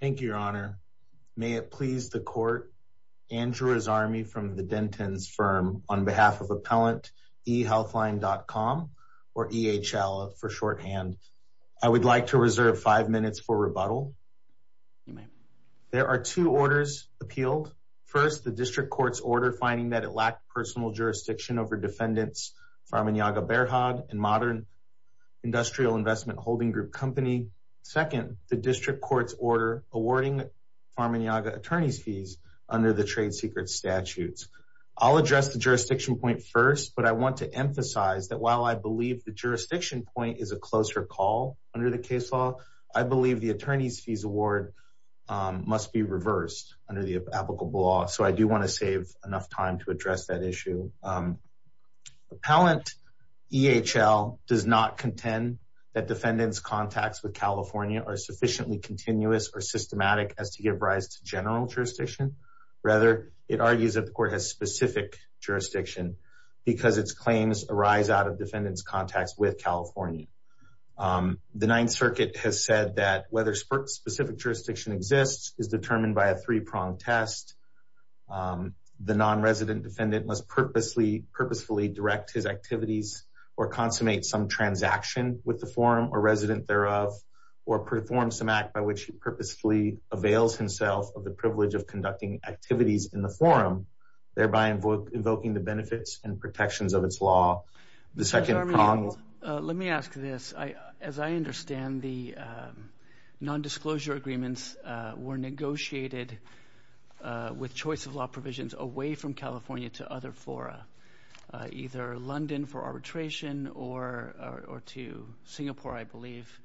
Thank you, Your Honor. May it please the Court, Andrew Azami from the Denton's firm, on behalf of Appellant EHealthline.com, or EHL for shorthand, I would like to reserve five minutes for rebuttal. There are two orders appealed. First, the District Court's order finding that it lacked personal jurisdiction over defendants Pharmaniaga Berhad and Modern Industrial Investment Holding Group Company. Second, the District Court's order awarding Pharmaniaga attorney's fees under the trade secret statutes. I'll address the jurisdiction point first, but I want to emphasize that while I believe the jurisdiction point is a closer call under the case law, I believe the attorney's fees award must be reversed under the applicable law, so I do want to save enough time to address that issue. Appellant EHL does not contend that defendants' contacts with California are sufficiently continuous or systematic as to give rise to general jurisdiction. Rather, it argues that the Court has specific jurisdiction because its claims arise out of defendants' contacts with California. The Ninth Circuit has said that whether specific jurisdiction exists is determined by a three-pronged test. The non-resident defendant must purposefully direct his activities or consummate some transaction with the forum or resident thereof or perform some act by which he purposefully avails himself of the privilege of conducting activities in the forum, thereby invoking the benefits and protections of its law. The second prong... As I understand, the non-disclosure agreements were negotiated with choice-of-law provisions away from California to other fora, either London for arbitration or to Singapore, I believe.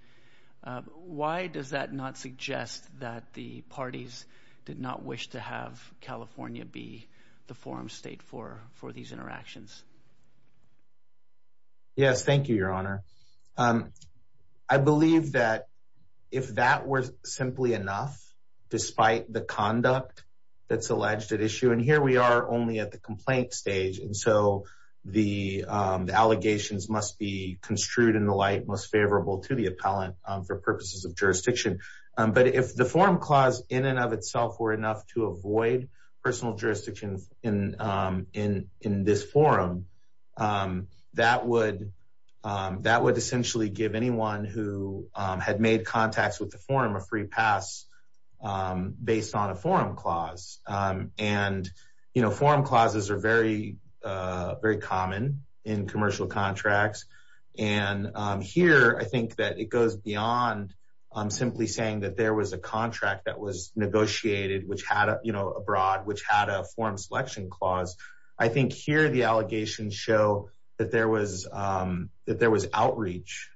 Why does that not suggest that the parties did not wish to have California be the forum state for these interactions? Yes, thank you, Your Honor. I believe that if that were simply enough, despite the conduct that's alleged at issue... But if the forum clause in and of itself were enough to avoid personal jurisdiction in this forum, that would essentially give anyone who had made contacts with the forum a free pass based on a forum clause. And, you know, forum clauses are very common in commercial contracts. And here, I think that it goes beyond simply saying that there was a contract that was negotiated, which had, you know, abroad, which had a forum selection clause. I think here the allegations show that there was outreach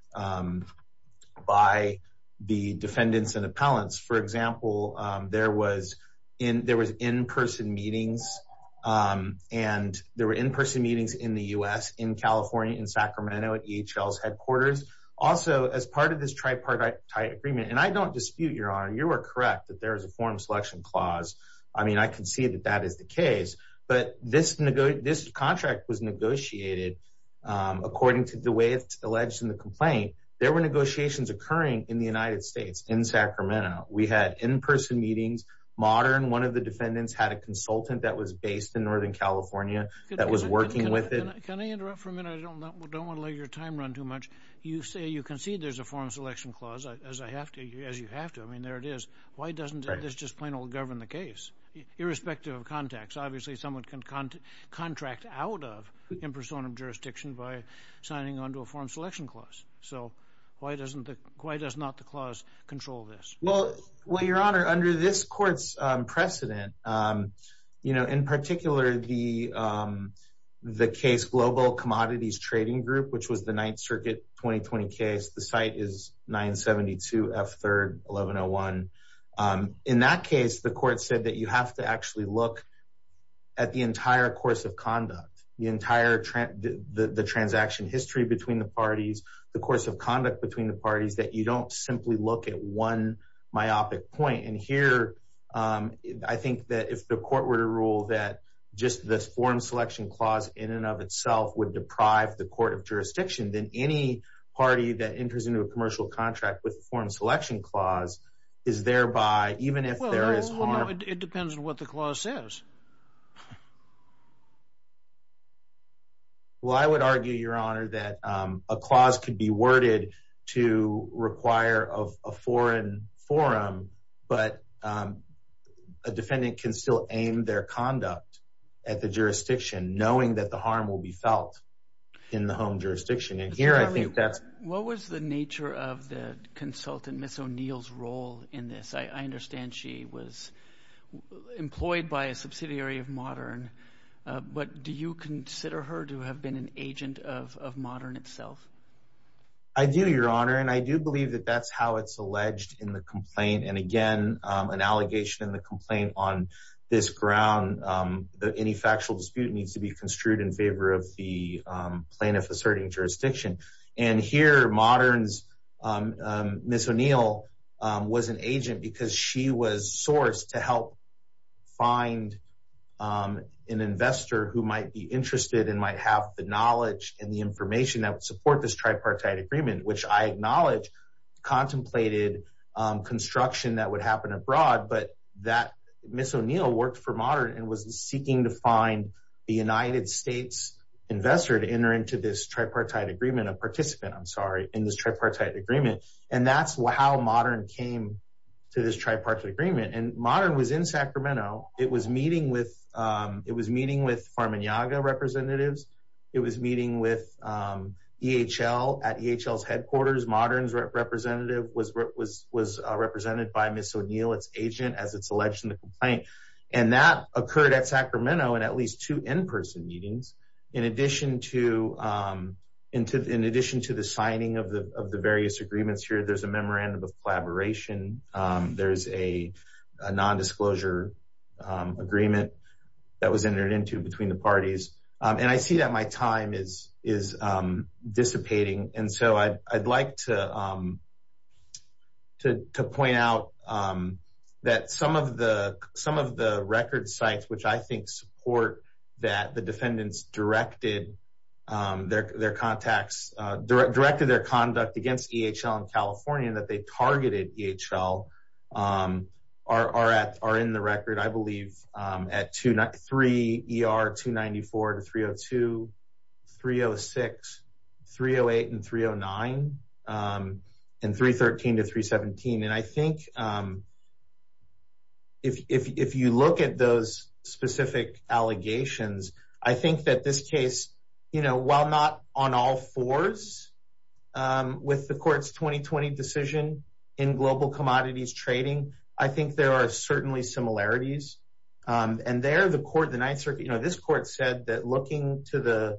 by the defendants and appellants. For example, there was in-person meetings, and there were in-person meetings in the U.S., in California, in Sacramento, at EHL's headquarters. Also, as part of this tripartite agreement, and I don't dispute, Your Honor, you are correct that there is a forum selection clause. I mean, I can see that that is the case. But this contract was negotiated according to the way it's alleged in the complaint. There were negotiations occurring in the United States, in Sacramento. We had in-person meetings. Modern, one of the defendants, had a consultant that was based in Northern California that was working with it. Can I interrupt for a minute? I don't want to let your time run too much. You say you concede there's a forum selection clause, as you have to. I mean, there it is. Why doesn't this just plain old govern the case, irrespective of context? Obviously, someone can contract out of in-person jurisdiction by signing onto a forum selection clause. So, why does not the clause control this? Well, Your Honor, under this court's precedent, you know, in particular, the case Global Commodities Trading Group, which was the Ninth Circuit 2020 case, the site is 972F3-1101. In that case, the court said that you have to actually look at the entire course of conduct, the entire transaction history between the parties, the course of conduct between the parties, that you don't simply look at one myopic point. And here, I think that if the court were to rule that just this forum selection clause in and of itself would deprive the court of jurisdiction, then any party that enters into a commercial contract with forum selection clause is thereby, even if there is harm. Well, no, it depends on what the clause says. Well, I would argue, Your Honor, that a clause could be worded to require a foreign forum, but a defendant can still aim their conduct at the jurisdiction, knowing that the harm will be felt in the home jurisdiction. And here, I think that's… What was the nature of the consultant, Ms. O'Neill's, role in this? I understand she was employed by a subsidiary of Modern. But do you consider her to have been an agent of Modern itself? I do, Your Honor, and I do believe that that's how it's alleged in the complaint. And again, an allegation in the complaint on this ground, that any factual dispute needs to be construed in favor of the plaintiff asserting jurisdiction. And here, Modern's Ms. O'Neill was an agent because she was sourced to help find an investor who might be interested and might have the knowledge and the information that would support this tripartite agreement, which I acknowledge contemplated construction that would happen abroad, but that Ms. O'Neill worked for Modern and was seeking to find the United States investor to enter into this tripartite agreement, a participant, I'm sorry, in this tripartite agreement. And that's how Modern came to this tripartite agreement. And Modern was in Sacramento. It was meeting with Farman Yaga representatives. It was meeting with EHL at EHL's headquarters. Modern's representative was represented by Ms. O'Neill, its agent, as it's alleged in the complaint. And that occurred at Sacramento in at least two in-person meetings. In addition to the signing of the various agreements here, there's a memorandum of collaboration. There's a nondisclosure agreement that was entered into between the parties. And I see that my time is dissipating. And so I'd like to point out that some of the record sites, which I think support that the defendants directed their conduct against EHL in California and that they targeted EHL are in the record, I believe, at 3 ER 294 to 302, 306, 308 and 309, and 313 to 317. And I think if you look at those specific allegations, I think that this case, you know, while not on all fours with the court's 2020 decision in global commodities trading, I think there are certainly similarities. And there the court, the Ninth Circuit, you know, this court said that looking to the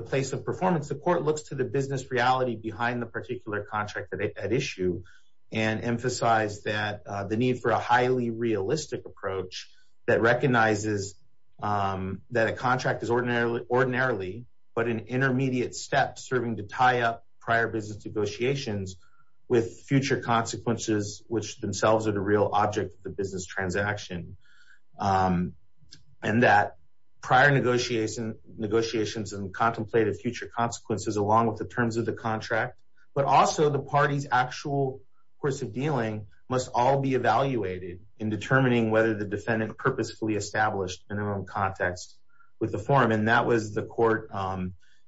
place of performance, the court looks to the business reality behind the particular contract that they had issued and emphasize that the need for a highly realistic approach that recognizes that a contract is ordinarily, but an intermediate step serving to tie up prior business negotiations with future consequences, which themselves are the real object of the business transaction. And that prior negotiations and contemplated future consequences along with the terms of the contract, but also the party's actual course of dealing must all be evaluated in determining whether the defendant purposefully established in their own context with the forum. And that was the court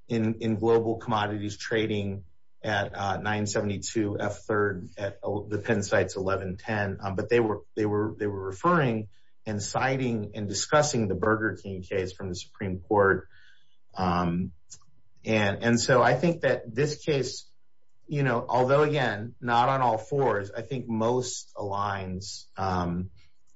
in global commodities trading at 972 F3rd at the Penn sites, 1110. But they were referring and citing and discussing the Burger King case from the Supreme Court. And so I think that this case, you know, although, again, not on all fours, I think most aligns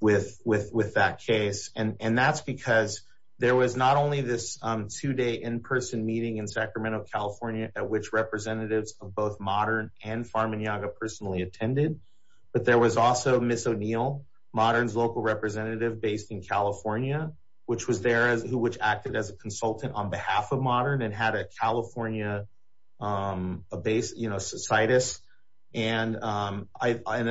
with that case. And that's because there was not only this two day in-person meeting in Sacramento, California, at which representatives of both modern and farm and yoga personally attended. But there was also Miss O'Neill, modern's local representative based in California, which was there as who, which acted as a consultant on behalf of modern and had a California base, you know, societies. And I,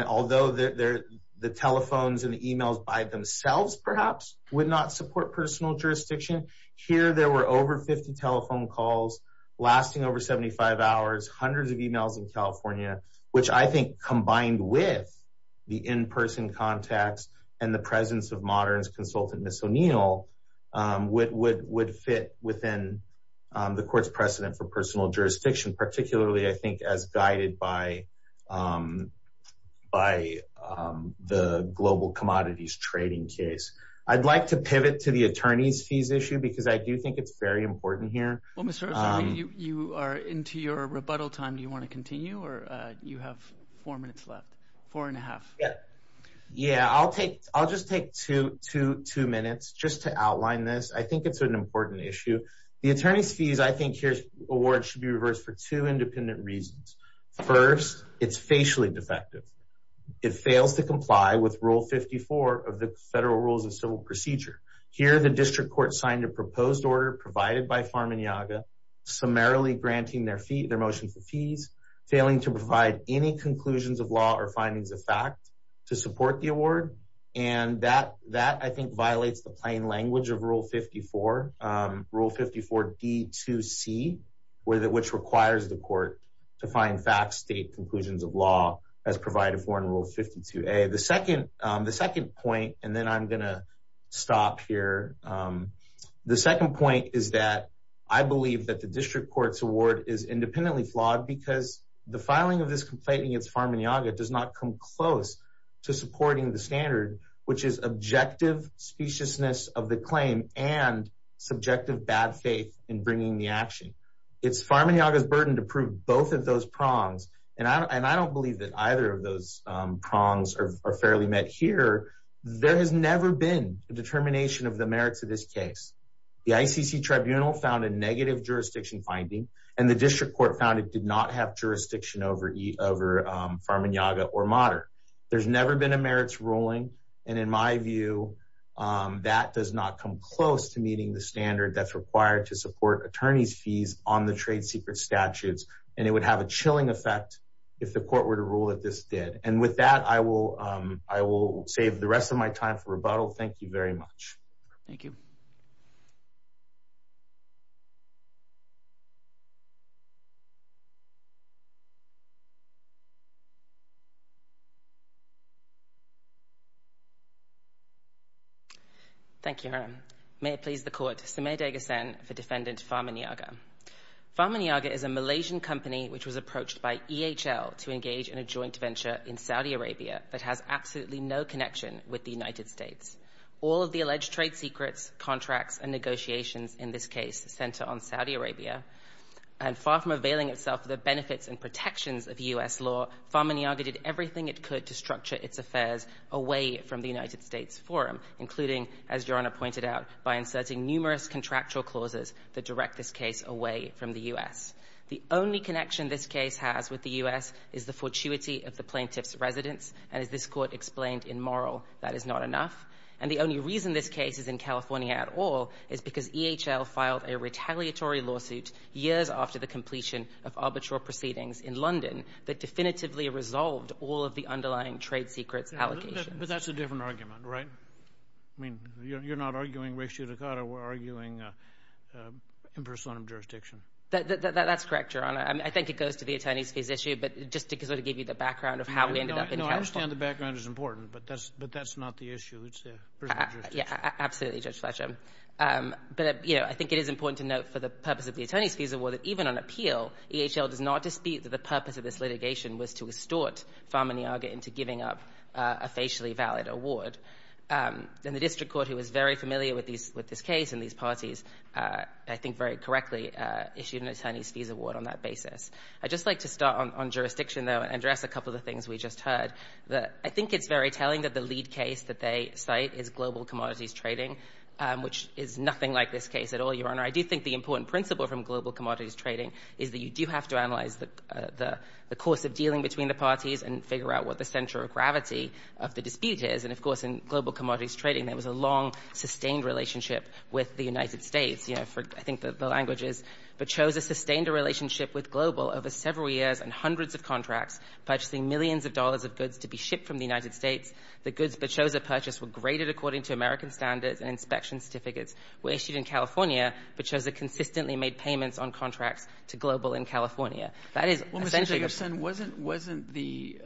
although the telephones and emails by themselves, perhaps would not support personal jurisdiction here. There were over 50 telephone calls lasting over 75 hours, hundreds of emails in California, which I think combined with the in-person contacts and the presence of modern consultant, Miss O'Neill would would would fit within the court's precedent for personal jurisdiction, particularly, I think, as guided by by the global commodities trading case. I'd like to pivot to the attorney's fees issue because I do think it's very important here. Well, you are into your rebuttal time. Do you want to continue or you have four minutes left? Four and a half. Yeah, I'll take I'll just take two to two minutes just to outline this. I think it's an important issue. The attorney's fees. I think your award should be reversed for two independent reasons. First, it's facially defective. It fails to comply with Rule 54 of the federal rules of civil procedure. Here, the district court signed a proposed order provided by farm and yoga, summarily granting their feet their motion for fees, failing to provide any conclusions of law or findings of fact to support the award. And that that, I think, violates the plain language of Rule 54. Rule 54 D to see where that which requires the court to find facts, state conclusions of law as provided for in Rule 52. The second the second point, and then I'm going to stop here. The second point is that I believe that the district court's award is independently flawed because the filing of this complaining, it's farm and yoga does not come close to supporting the standard, which is objective speciousness of the claim and subjective bad faith in bringing the action. It's farm and yoga's burden to prove both of those prongs. And I don't believe that either of those prongs are fairly met here. There has never been a determination of the merits of this case. The ICC tribunal found a negative jurisdiction finding and the district court found it did not have jurisdiction over over farm and yoga or moderate. There's never been a merits ruling. And in my view, that does not come close to meeting the standard that's required to support attorneys fees on the trade secret statutes. And it would have a chilling effect if the court were to rule that this did. And with that, I will I will save the rest of my time for rebuttal. Thank you very much. Thank you. Thank you. May it please the court. Samir Degas and the defendant's farm and yoga farm and yoga is a Malaysian company which was approached by E.H.L. to engage in a joint venture in Saudi Arabia that has absolutely no connection with the United States. All of the alleged trade secrets, contracts and negotiations in this case center on Saudi Arabia. And far from availing itself of the benefits and protections of U.S. law. Farm and yoga did everything it could to structure its affairs away from the United States forum, including, as Your Honor pointed out, by inserting numerous contractual clauses that direct this case away from the U.S. The only connection this case has with the U.S. is the fortuity of the plaintiff's residence. And as this court explained in moral, that is not enough. And the only reason this case is in California at all is because E.H.L. all of the underlying trade secrets allocation. But that's a different argument, right? I mean, you're not arguing ratio, Dakota. We're arguing impersonal jurisdiction. That's correct, Your Honor. I mean, I think it goes to the attorney's fees issue. But just to give you the background of how we ended up in California. I understand the background is important, but that's not the issue. Yeah, absolutely, Judge Fletcher. But, you know, I think it is important to note for the purpose of the attorney's fees award that even on appeal, E.H.L. does not dispute that the purpose of this litigation was to estort Farman Yaga into giving up a facially valid award. And the district court, who is very familiar with this case and these parties, I think very correctly, issued an attorney's fees award on that basis. I'd just like to start on jurisdiction, though, and address a couple of the things we just heard. I think it's very telling that the lead case that they cite is global commodities trading, which is nothing like this case at all, Your Honor. I do think the important principle from global commodities trading is that you do have to analyze the course of dealing between the parties and figure out what the center of gravity of the dispute is. And, of course, in global commodities trading, there was a long, sustained relationship with the United States. You know, I think the language is, Bechoza sustained a relationship with Global over several years and hundreds of contracts, purchasing millions of dollars of goods to be shipped from the United States. The goods Bechoza purchased were graded according to American standards and inspection certificates were issued in California. Bechoza consistently made payments on contracts to Global in California. Well, Mr. Jacobson, wasn't the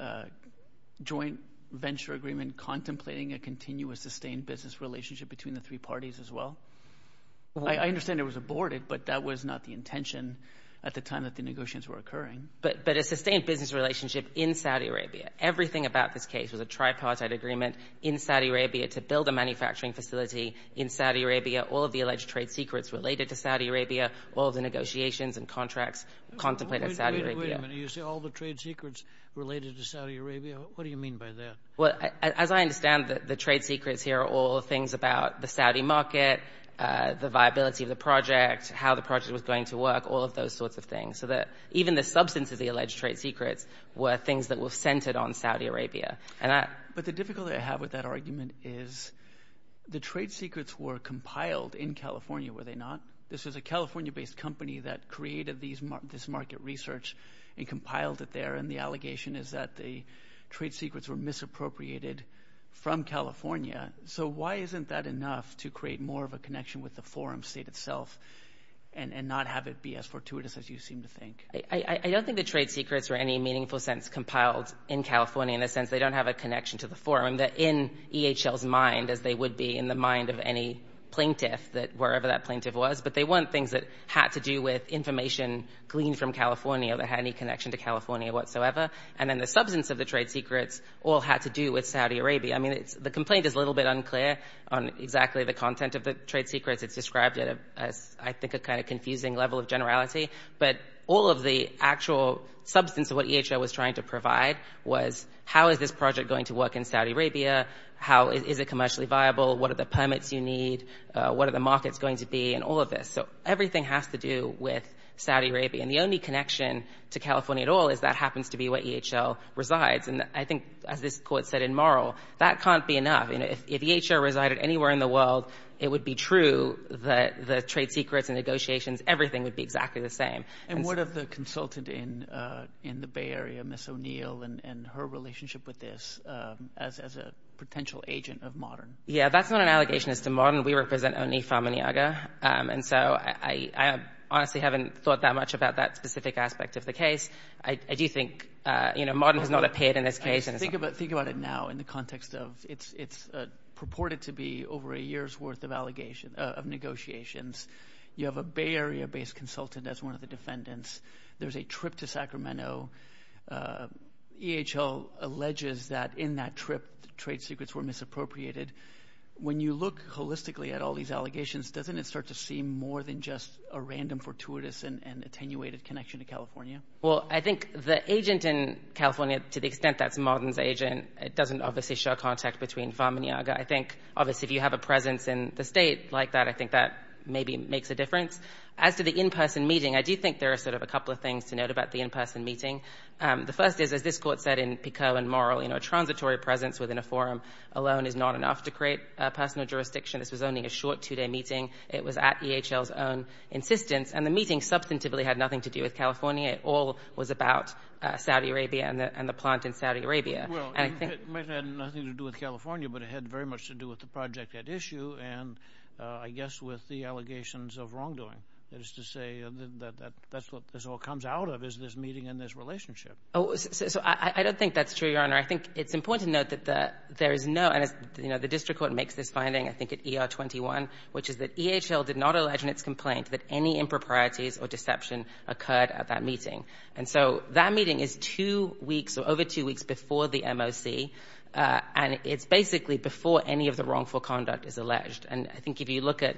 joint venture agreement contemplating a continuous, sustained business relationship between the three parties as well? I understand it was aborted, but that was not the intention at the time that the negotiations were occurring. But a sustained business relationship in Saudi Arabia. Everything about this case was a tripartite agreement in Saudi Arabia to build a manufacturing facility in Saudi Arabia, all of the alleged trade secrets related to Saudi Arabia, all of the negotiations and contracts contemplated in Saudi Arabia. Wait a minute. You say all the trade secrets related to Saudi Arabia? What do you mean by that? Well, as I understand it, the trade secrets here are all things about the Saudi market, the viability of the project, how the project was going to work, all of those sorts of things. So even the substance of the alleged trade secrets were things that were centered on Saudi Arabia. But the difficulty I have with that argument is the trade secrets were compiled in California, were they not? This was a California-based company that created this market research and compiled it there, and the allegation is that the trade secrets were misappropriated from California. So why isn't that enough to create more of a connection with the forum state itself and not have it be as fortuitous as you seem to think? I don't think the trade secrets were in any meaningful sense compiled in California, in the sense they don't have a connection to the forum. They're in EHL's mind, as they would be in the mind of any plaintiff, wherever that plaintiff was. But they weren't things that had to do with information gleaned from California that had any connection to California whatsoever. And then the substance of the trade secrets all had to do with Saudi Arabia. I mean, the complaint is a little bit unclear on exactly the content of the trade secrets. It's described as, I think, a kind of confusing level of generality. But all of the actual substance of what EHL was trying to provide was how is this project going to work in Saudi Arabia, how is it commercially viable, what are the permits you need, what are the markets going to be, and all of this. So everything has to do with Saudi Arabia. And the only connection to California at all is that happens to be where EHL resides. And I think, as this court said in Morrow, that can't be enough. If EHL resided anywhere in the world, it would be true that the trade secrets and negotiations, everything would be exactly the same. And what of the consultant in the Bay Area, Ms. O'Neill, and her relationship with this as a potential agent of Modern? Yeah, that's not an allegation as to Modern. We represent only Pharma Niagara. And so I honestly haven't thought that much about that specific aspect of the case. I do think Modern has not appeared in this case. Think about it now in the context of it's purported to be over a year's worth of negotiations. You have a Bay Area-based consultant as one of the defendants. There's a trip to Sacramento. EHL alleges that in that trip trade secrets were misappropriated. When you look holistically at all these allegations, doesn't it start to seem more than just a random, fortuitous, and attenuated connection to California? Well, I think the agent in California, to the extent that's Modern's agent, doesn't obviously show contact between Pharma Niagara. I think, obviously, if you have a presence in the State like that, I think that maybe makes a difference. As to the in-person meeting, I do think there are sort of a couple of things to note about the in-person meeting. The first is, as this Court said in Picot and Morrill, you know, a transitory presence within a forum alone is not enough to create a personal jurisdiction. This was only a short two-day meeting. It was at EHL's own insistence. And the meeting substantively had nothing to do with California. It all was about Saudi Arabia and the plant in Saudi Arabia. And I think — Well, it might have had nothing to do with California, but it had very much to do with the project at issue and, I guess, with the allegations of wrongdoing. That is to say that that's what this all comes out of, is this meeting and this relationship. So I don't think that's true, Your Honor. I think it's important to note that there is no — and, you know, the district court makes this finding, I think, at ER-21, which is that EHL did not allege in its complaint that any improprieties or deception occurred at that meeting. And so that meeting is two weeks or over two weeks before the MOC, and it's basically before any of the wrongful conduct is alleged. And I think if you look at,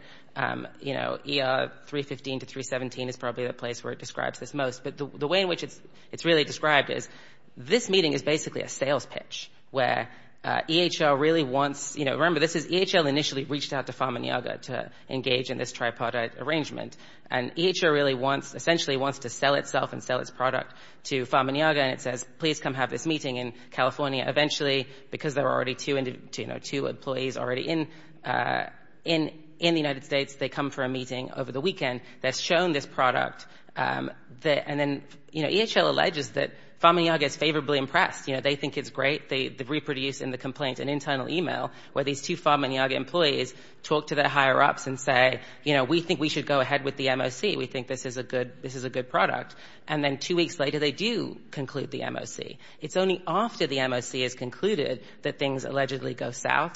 you know, ER-315 to 317 is probably the place where it describes this most. But the way in which it's really described is this meeting is basically a sales pitch where EHL really wants — you know, remember, this is — EHL initially reached out to And EHL really wants — essentially wants to sell itself and sell its product to Pharma Nyaga, and it says, please come have this meeting in California. Eventually, because there are already two employees already in the United States, they come for a meeting over the weekend that's shown this product. And then, you know, EHL alleges that Pharma Nyaga is favorably impressed. You know, they think it's great. They reproduce in the complaint an internal e-mail where these two Pharma Nyaga employees talk to their higher ups and say, you know, we think we should go ahead with the MOC. We think this is a good — this is a good product. And then two weeks later, they do conclude the MOC. It's only after the MOC is concluded that things allegedly go south.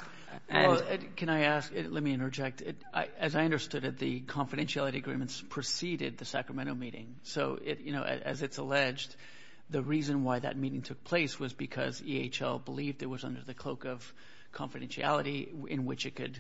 And — Well, can I ask — let me interject. As I understood it, the confidentiality agreements preceded the Sacramento meeting. So, you know, as it's alleged, the reason why that meeting took place was because EHL believed it was under the cloak of confidentiality in which it could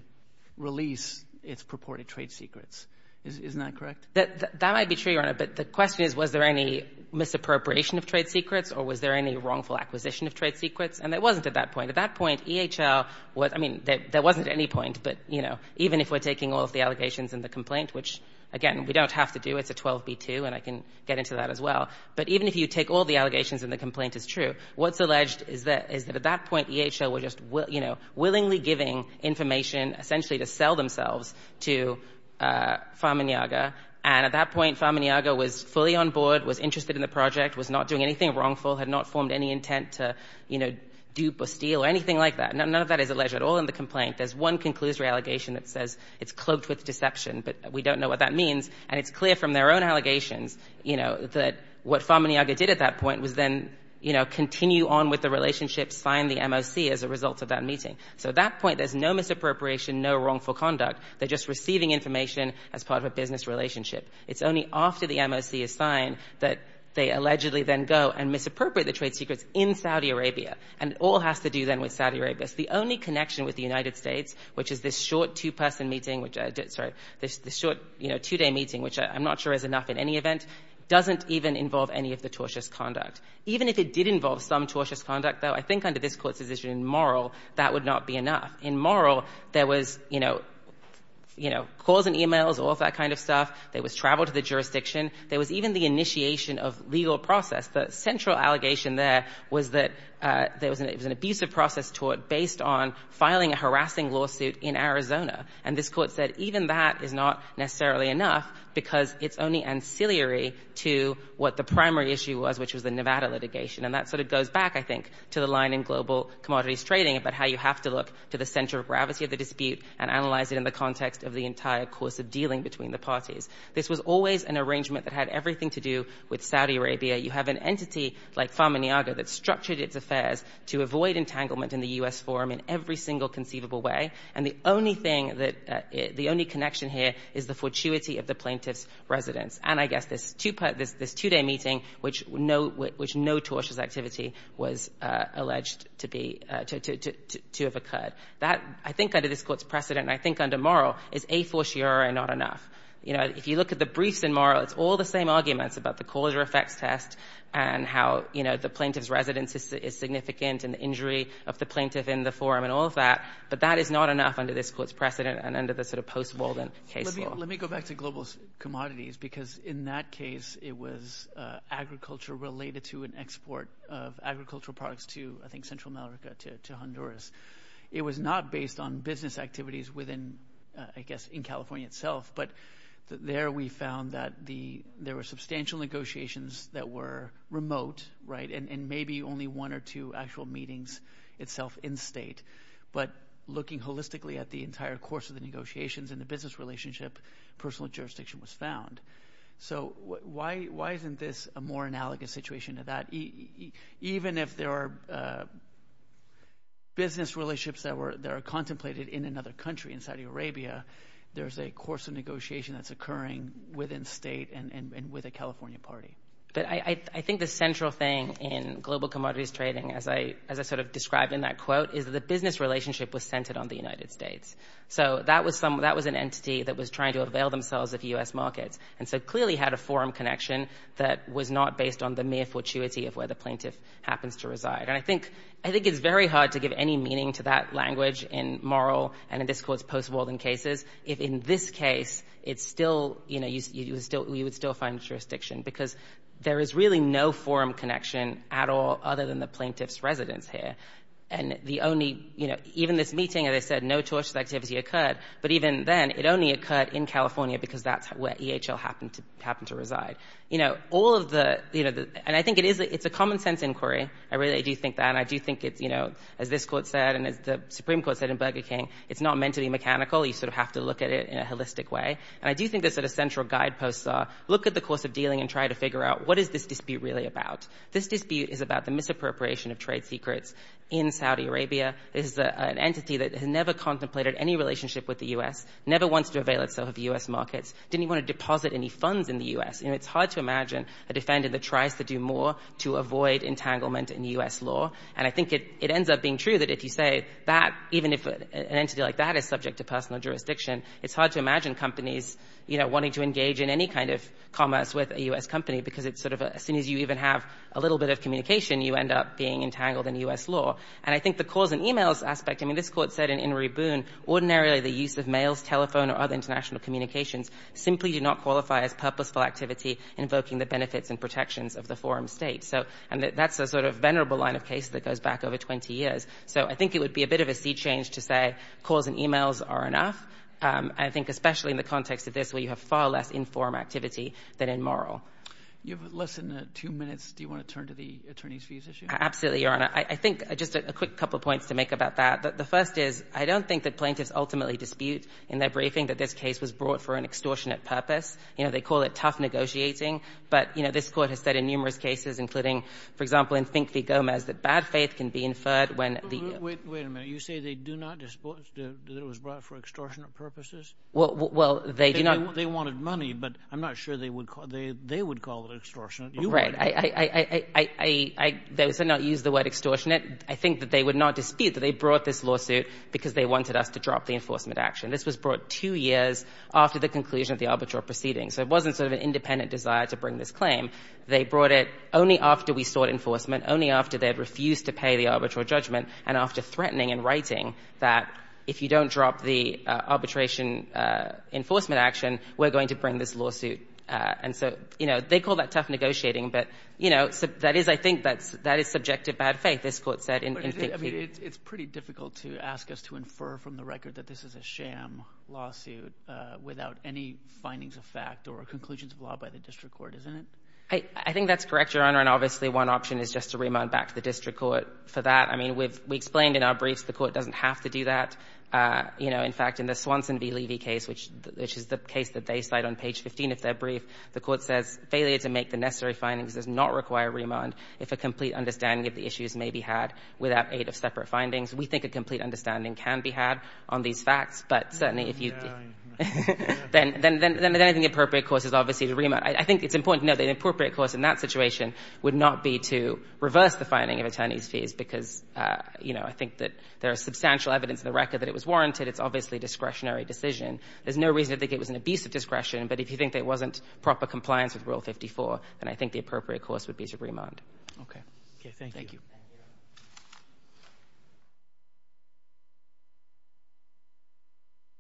release its purported trade secrets. Isn't that correct? That might be true, Your Honor. But the question is, was there any misappropriation of trade secrets or was there any wrongful acquisition of trade secrets? And it wasn't at that point. At that point, EHL was — I mean, there wasn't any point. But, you know, even if we're taking all of the allegations in the complaint, which, again, we don't have to do. It's a 12B2, and I can get into that as well. But even if you take all the allegations and the complaint is true, what's alleged is that at that point, EHL were just, you know, willingly giving information essentially to sell themselves to Farman Yaga. And at that point, Farman Yaga was fully on board, was interested in the project, was not doing anything wrongful, had not formed any intent to, you know, dupe or steal or anything like that. None of that is alleged at all in the complaint. There's one conclusory allegation that says it's cloaked with deception, but we don't know what that means. And it's clear from their own allegations, you know, that what Farman Yaga did at that point was then, you know, continue on with the relationship, sign the MOC as a result of that meeting. So at that point, there's no misappropriation, no wrongful conduct. They're just receiving information as part of a business relationship. It's only after the MOC is signed that they allegedly then go and misappropriate the trade secrets in Saudi Arabia. And it all has to do then with Saudi Arabia. It's the only connection with the United States, which is this short two-person meeting, which – sorry – this short, you know, two-day meeting, which I'm not sure is enough in any event, doesn't even involve any of the tortious conduct. Even if it did involve some tortious conduct, though, I think under this Court's decision, moral, that would not be enough. In moral, there was, you know, you know, calls and e-mails, all that kind of stuff. There was travel to the jurisdiction. There was even the initiation of legal process. The central allegation there was that there was an abusive process tort based on filing a harassing lawsuit in Arizona. And this Court said even that is not necessarily enough because it's only ancillary to what the primary issue was, which was the Nevada litigation. And that sort of goes back, I think, to the line in Global Commodities Trading about how you have to look to the center of gravity of the dispute and analyze it in the context of the entire course of dealing between the parties. This was always an arrangement that had everything to do with Saudi Arabia. You have an entity like Farmaniaga that structured its affairs to avoid entanglement in the U.S. forum in every single conceivable way. And the only thing that the only connection here is the fortuity of the plaintiff's residence. And I guess this two-day meeting, which no tortious activity was alleged to be to have occurred. That, I think, under this Court's precedent, and I think under moral, is a fortiori not enough. You know, if you look at the briefs in moral, it's all the same arguments about the Calder effects test and how, you know, the plaintiff's residence is significant and the injury of the plaintiff in the forum and all of that. But that is not enough under this Court's precedent and under the sort of post-Walden case law. Let me go back to Global Commodities because in that case it was agriculture related to an export of agricultural products to, I think, Central America, to Honduras. It was not based on business activities within, I guess, in California itself. But there we found that there were substantial negotiations that were remote, right, and maybe only one or two actual meetings itself in-state. But looking holistically at the entire course of the negotiations and the business relationship, personal jurisdiction was found. So why isn't this a more analogous situation to that? Even if there are business relationships that are contemplated in another country, in Saudi Arabia, there's a course of negotiation that's occurring within-state and with a California party. But I think the central thing in Global Commodities Trading, as I sort of describe in that quote, is the business relationship was centered on the United States. So that was an entity that was trying to avail themselves of U.S. markets and so clearly had a forum connection that was not based on the mere fortuity of where the plaintiff happens to reside. And I think it's very hard to give any meaning to that language in moral and in this Court's post-Walden cases if in this case you would still find jurisdiction because there is really no forum connection at all other than the plaintiff's residence here. And the only, you know, even this meeting, as I said, no tortious activity occurred. But even then, it only occurred in California because that's where EHL happened to reside. You know, all of the, you know, and I think it's a common-sense inquiry. I really do think that. And I do think it's, you know, as this Court said and as the Supreme Court said in Burger King, it's not meant to be mechanical. You sort of have to look at it in a holistic way. And I do think the sort of central guideposts are look at the course of dealing and try to figure out what is this dispute really about. This dispute is about the misappropriation of trade secrets in Saudi Arabia. This is an entity that has never contemplated any relationship with the U.S., never wants to avail itself of U.S. markets, didn't even want to deposit any funds in the U.S. You know, it's hard to imagine a defendant that tries to do more to avoid entanglement in U.S. law. And I think it ends up being true that if you say that even if an entity like that is subject to personal jurisdiction, it's hard to imagine companies, you know, any kind of commerce with a U.S. company, because it's sort of as soon as you even have a little bit of communication, you end up being entangled in U.S. law. And I think the calls and e-mails aspect, I mean, this Court said in In Re Boon, ordinarily the use of mails, telephone or other international communications simply do not qualify as purposeful activity invoking the benefits and protections of the forum state. So that's a sort of venerable line of case that goes back over 20 years. So I think it would be a bit of a sea change to say calls and e-mails are enough. I think especially in the context of this where you have far less informed activity than in moral. You have less than two minutes. Do you want to turn to the attorneys' fees issue? Absolutely, Your Honor. I think just a quick couple of points to make about that. The first is I don't think that plaintiffs ultimately dispute in their briefing that this case was brought for an extortionate purpose. You know, they call it tough negotiating. But, you know, this Court has said in numerous cases, including, for example, in Fink v. Gomez, that bad faith can be inferred when the ---- Wait a minute. You say they do not dispute that it was brought for extortionate purposes? Well, they do not. They wanted money, but I'm not sure they would call it extortionate. You would. Right. I don't say not use the word extortionate. I think that they would not dispute that they brought this lawsuit because they wanted us to drop the enforcement action. This was brought two years after the conclusion of the arbitral proceedings. So it wasn't sort of an independent desire to bring this claim. They brought it only after we sought enforcement, only after they had refused to pay the arbitral judgment, and after threatening and writing that if you don't drop the arbitration enforcement action, we're going to bring this lawsuit. And so, you know, they call that tough negotiating. But, you know, that is, I think, that is subjective bad faith, this Court said in Fink v. It's pretty difficult to ask us to infer from the record that this is a sham lawsuit without any findings of fact or conclusions of law by the district court, isn't it? I think that's correct, Your Honor. And obviously, one option is just to remand back to the district court for that. I mean, we've explained in our briefs the Court doesn't have to do that. You know, in fact, in the Swanson v. Levy case, which is the case that they cite on page 15 of their brief, the Court says failure to make the necessary findings does not require remand if a complete understanding of the issues may be had without aid of separate findings. We think a complete understanding can be had on these facts. But certainly, if you do, then I think the appropriate course is obviously to remand. I think it's important to know that the appropriate course in that situation would not be to reverse the finding of attorney's fees because, you know, I think that there is substantial evidence in the record that it was warranted. It's obviously a discretionary decision. There's no reason to think it was an abuse of discretion. But if you think there wasn't proper compliance with Rule 54, then I think the appropriate course would be to remand. Okay. Thank you.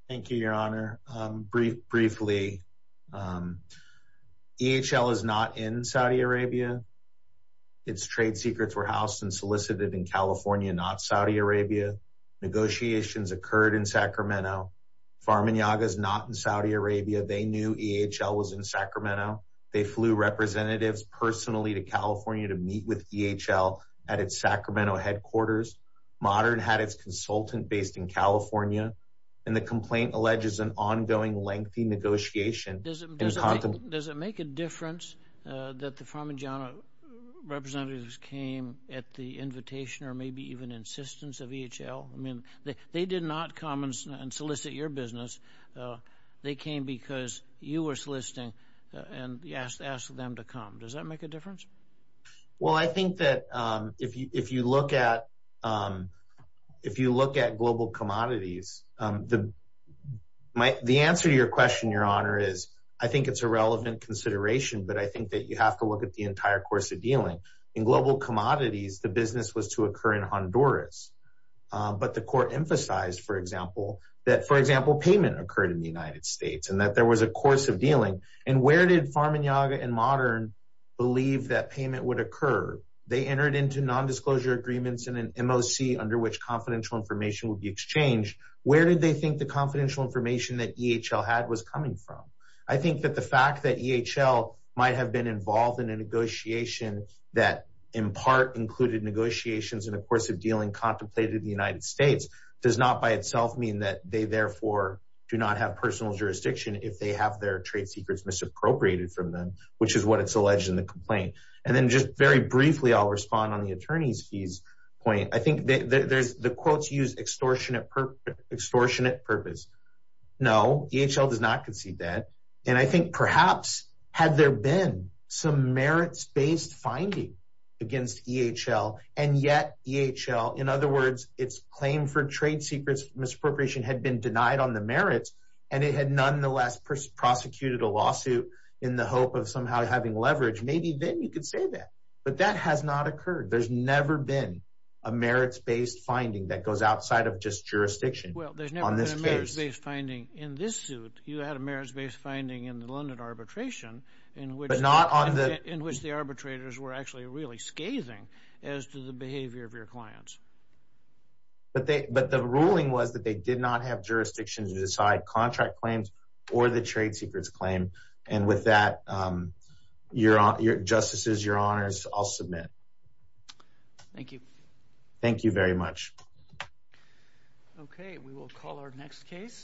Thank you, Your Honor. Briefly, EHL is not in Saudi Arabia. Its trade secrets were housed and solicited in California, not Saudi Arabia. Negotiations occurred in Sacramento. Pharma Nyaga is not in Saudi Arabia. They knew EHL was in Sacramento. They flew representatives personally to California to meet with EHL at its Sacramento headquarters. Modern had its consultant based in California. And the complaint alleges an ongoing lengthy negotiation. Does it make a difference that the Pharma Janna representatives came at the invitation or maybe even insistence of EHL? I mean, they did not come and solicit your business. They came because you were soliciting and asked them to come. Does that make a difference? Well, I think that if you look at global commodities, the answer to your question, Your Honor, is I think it's a relevant consideration. But I think that you have to look at the entire course of dealing. In global commodities, the business was to occur in Honduras. But the court emphasized, for example, that, for example, payment occurred in the United States and that there was a course of dealing. And where did Pharma Janna and Modern believe that payment would occur? They entered into nondisclosure agreements and an MOC under which confidential information would be exchanged. Where did they think the confidential information that EHL had was coming from? I think that the fact that EHL might have been involved in a negotiation that, in part, included negotiations in the course of dealing contemplated the United States does not by itself mean that they, therefore, do not have personal jurisdiction if they have their trade secrets misappropriated from them, which is what it's alleged in the complaint. And then just very briefly, I'll respond on the attorney's fees point. I think the quotes use extortionate purpose. No, EHL does not concede that. And I think perhaps had there been some merits-based finding against EHL, and yet EHL, in other words, its claim for trade secrets misappropriation had been denied on the merits, and it had nonetheless prosecuted a lawsuit in the hope of somehow having leverage, maybe then you could say that. But that has not occurred. There's never been a merits-based finding that goes outside of just jurisdiction on this case. Well, there's never been a merits-based finding in this suit. You had a merits-based finding in the London arbitration in which the arbitrators were actually really scathing as to the behavior of your clients. But the ruling was that they did not have jurisdiction to decide contract claims or the trade secrets claim. And with that, justices, your honors, I'll submit. Thank you. Thank you very much. Okay. We will call our next case.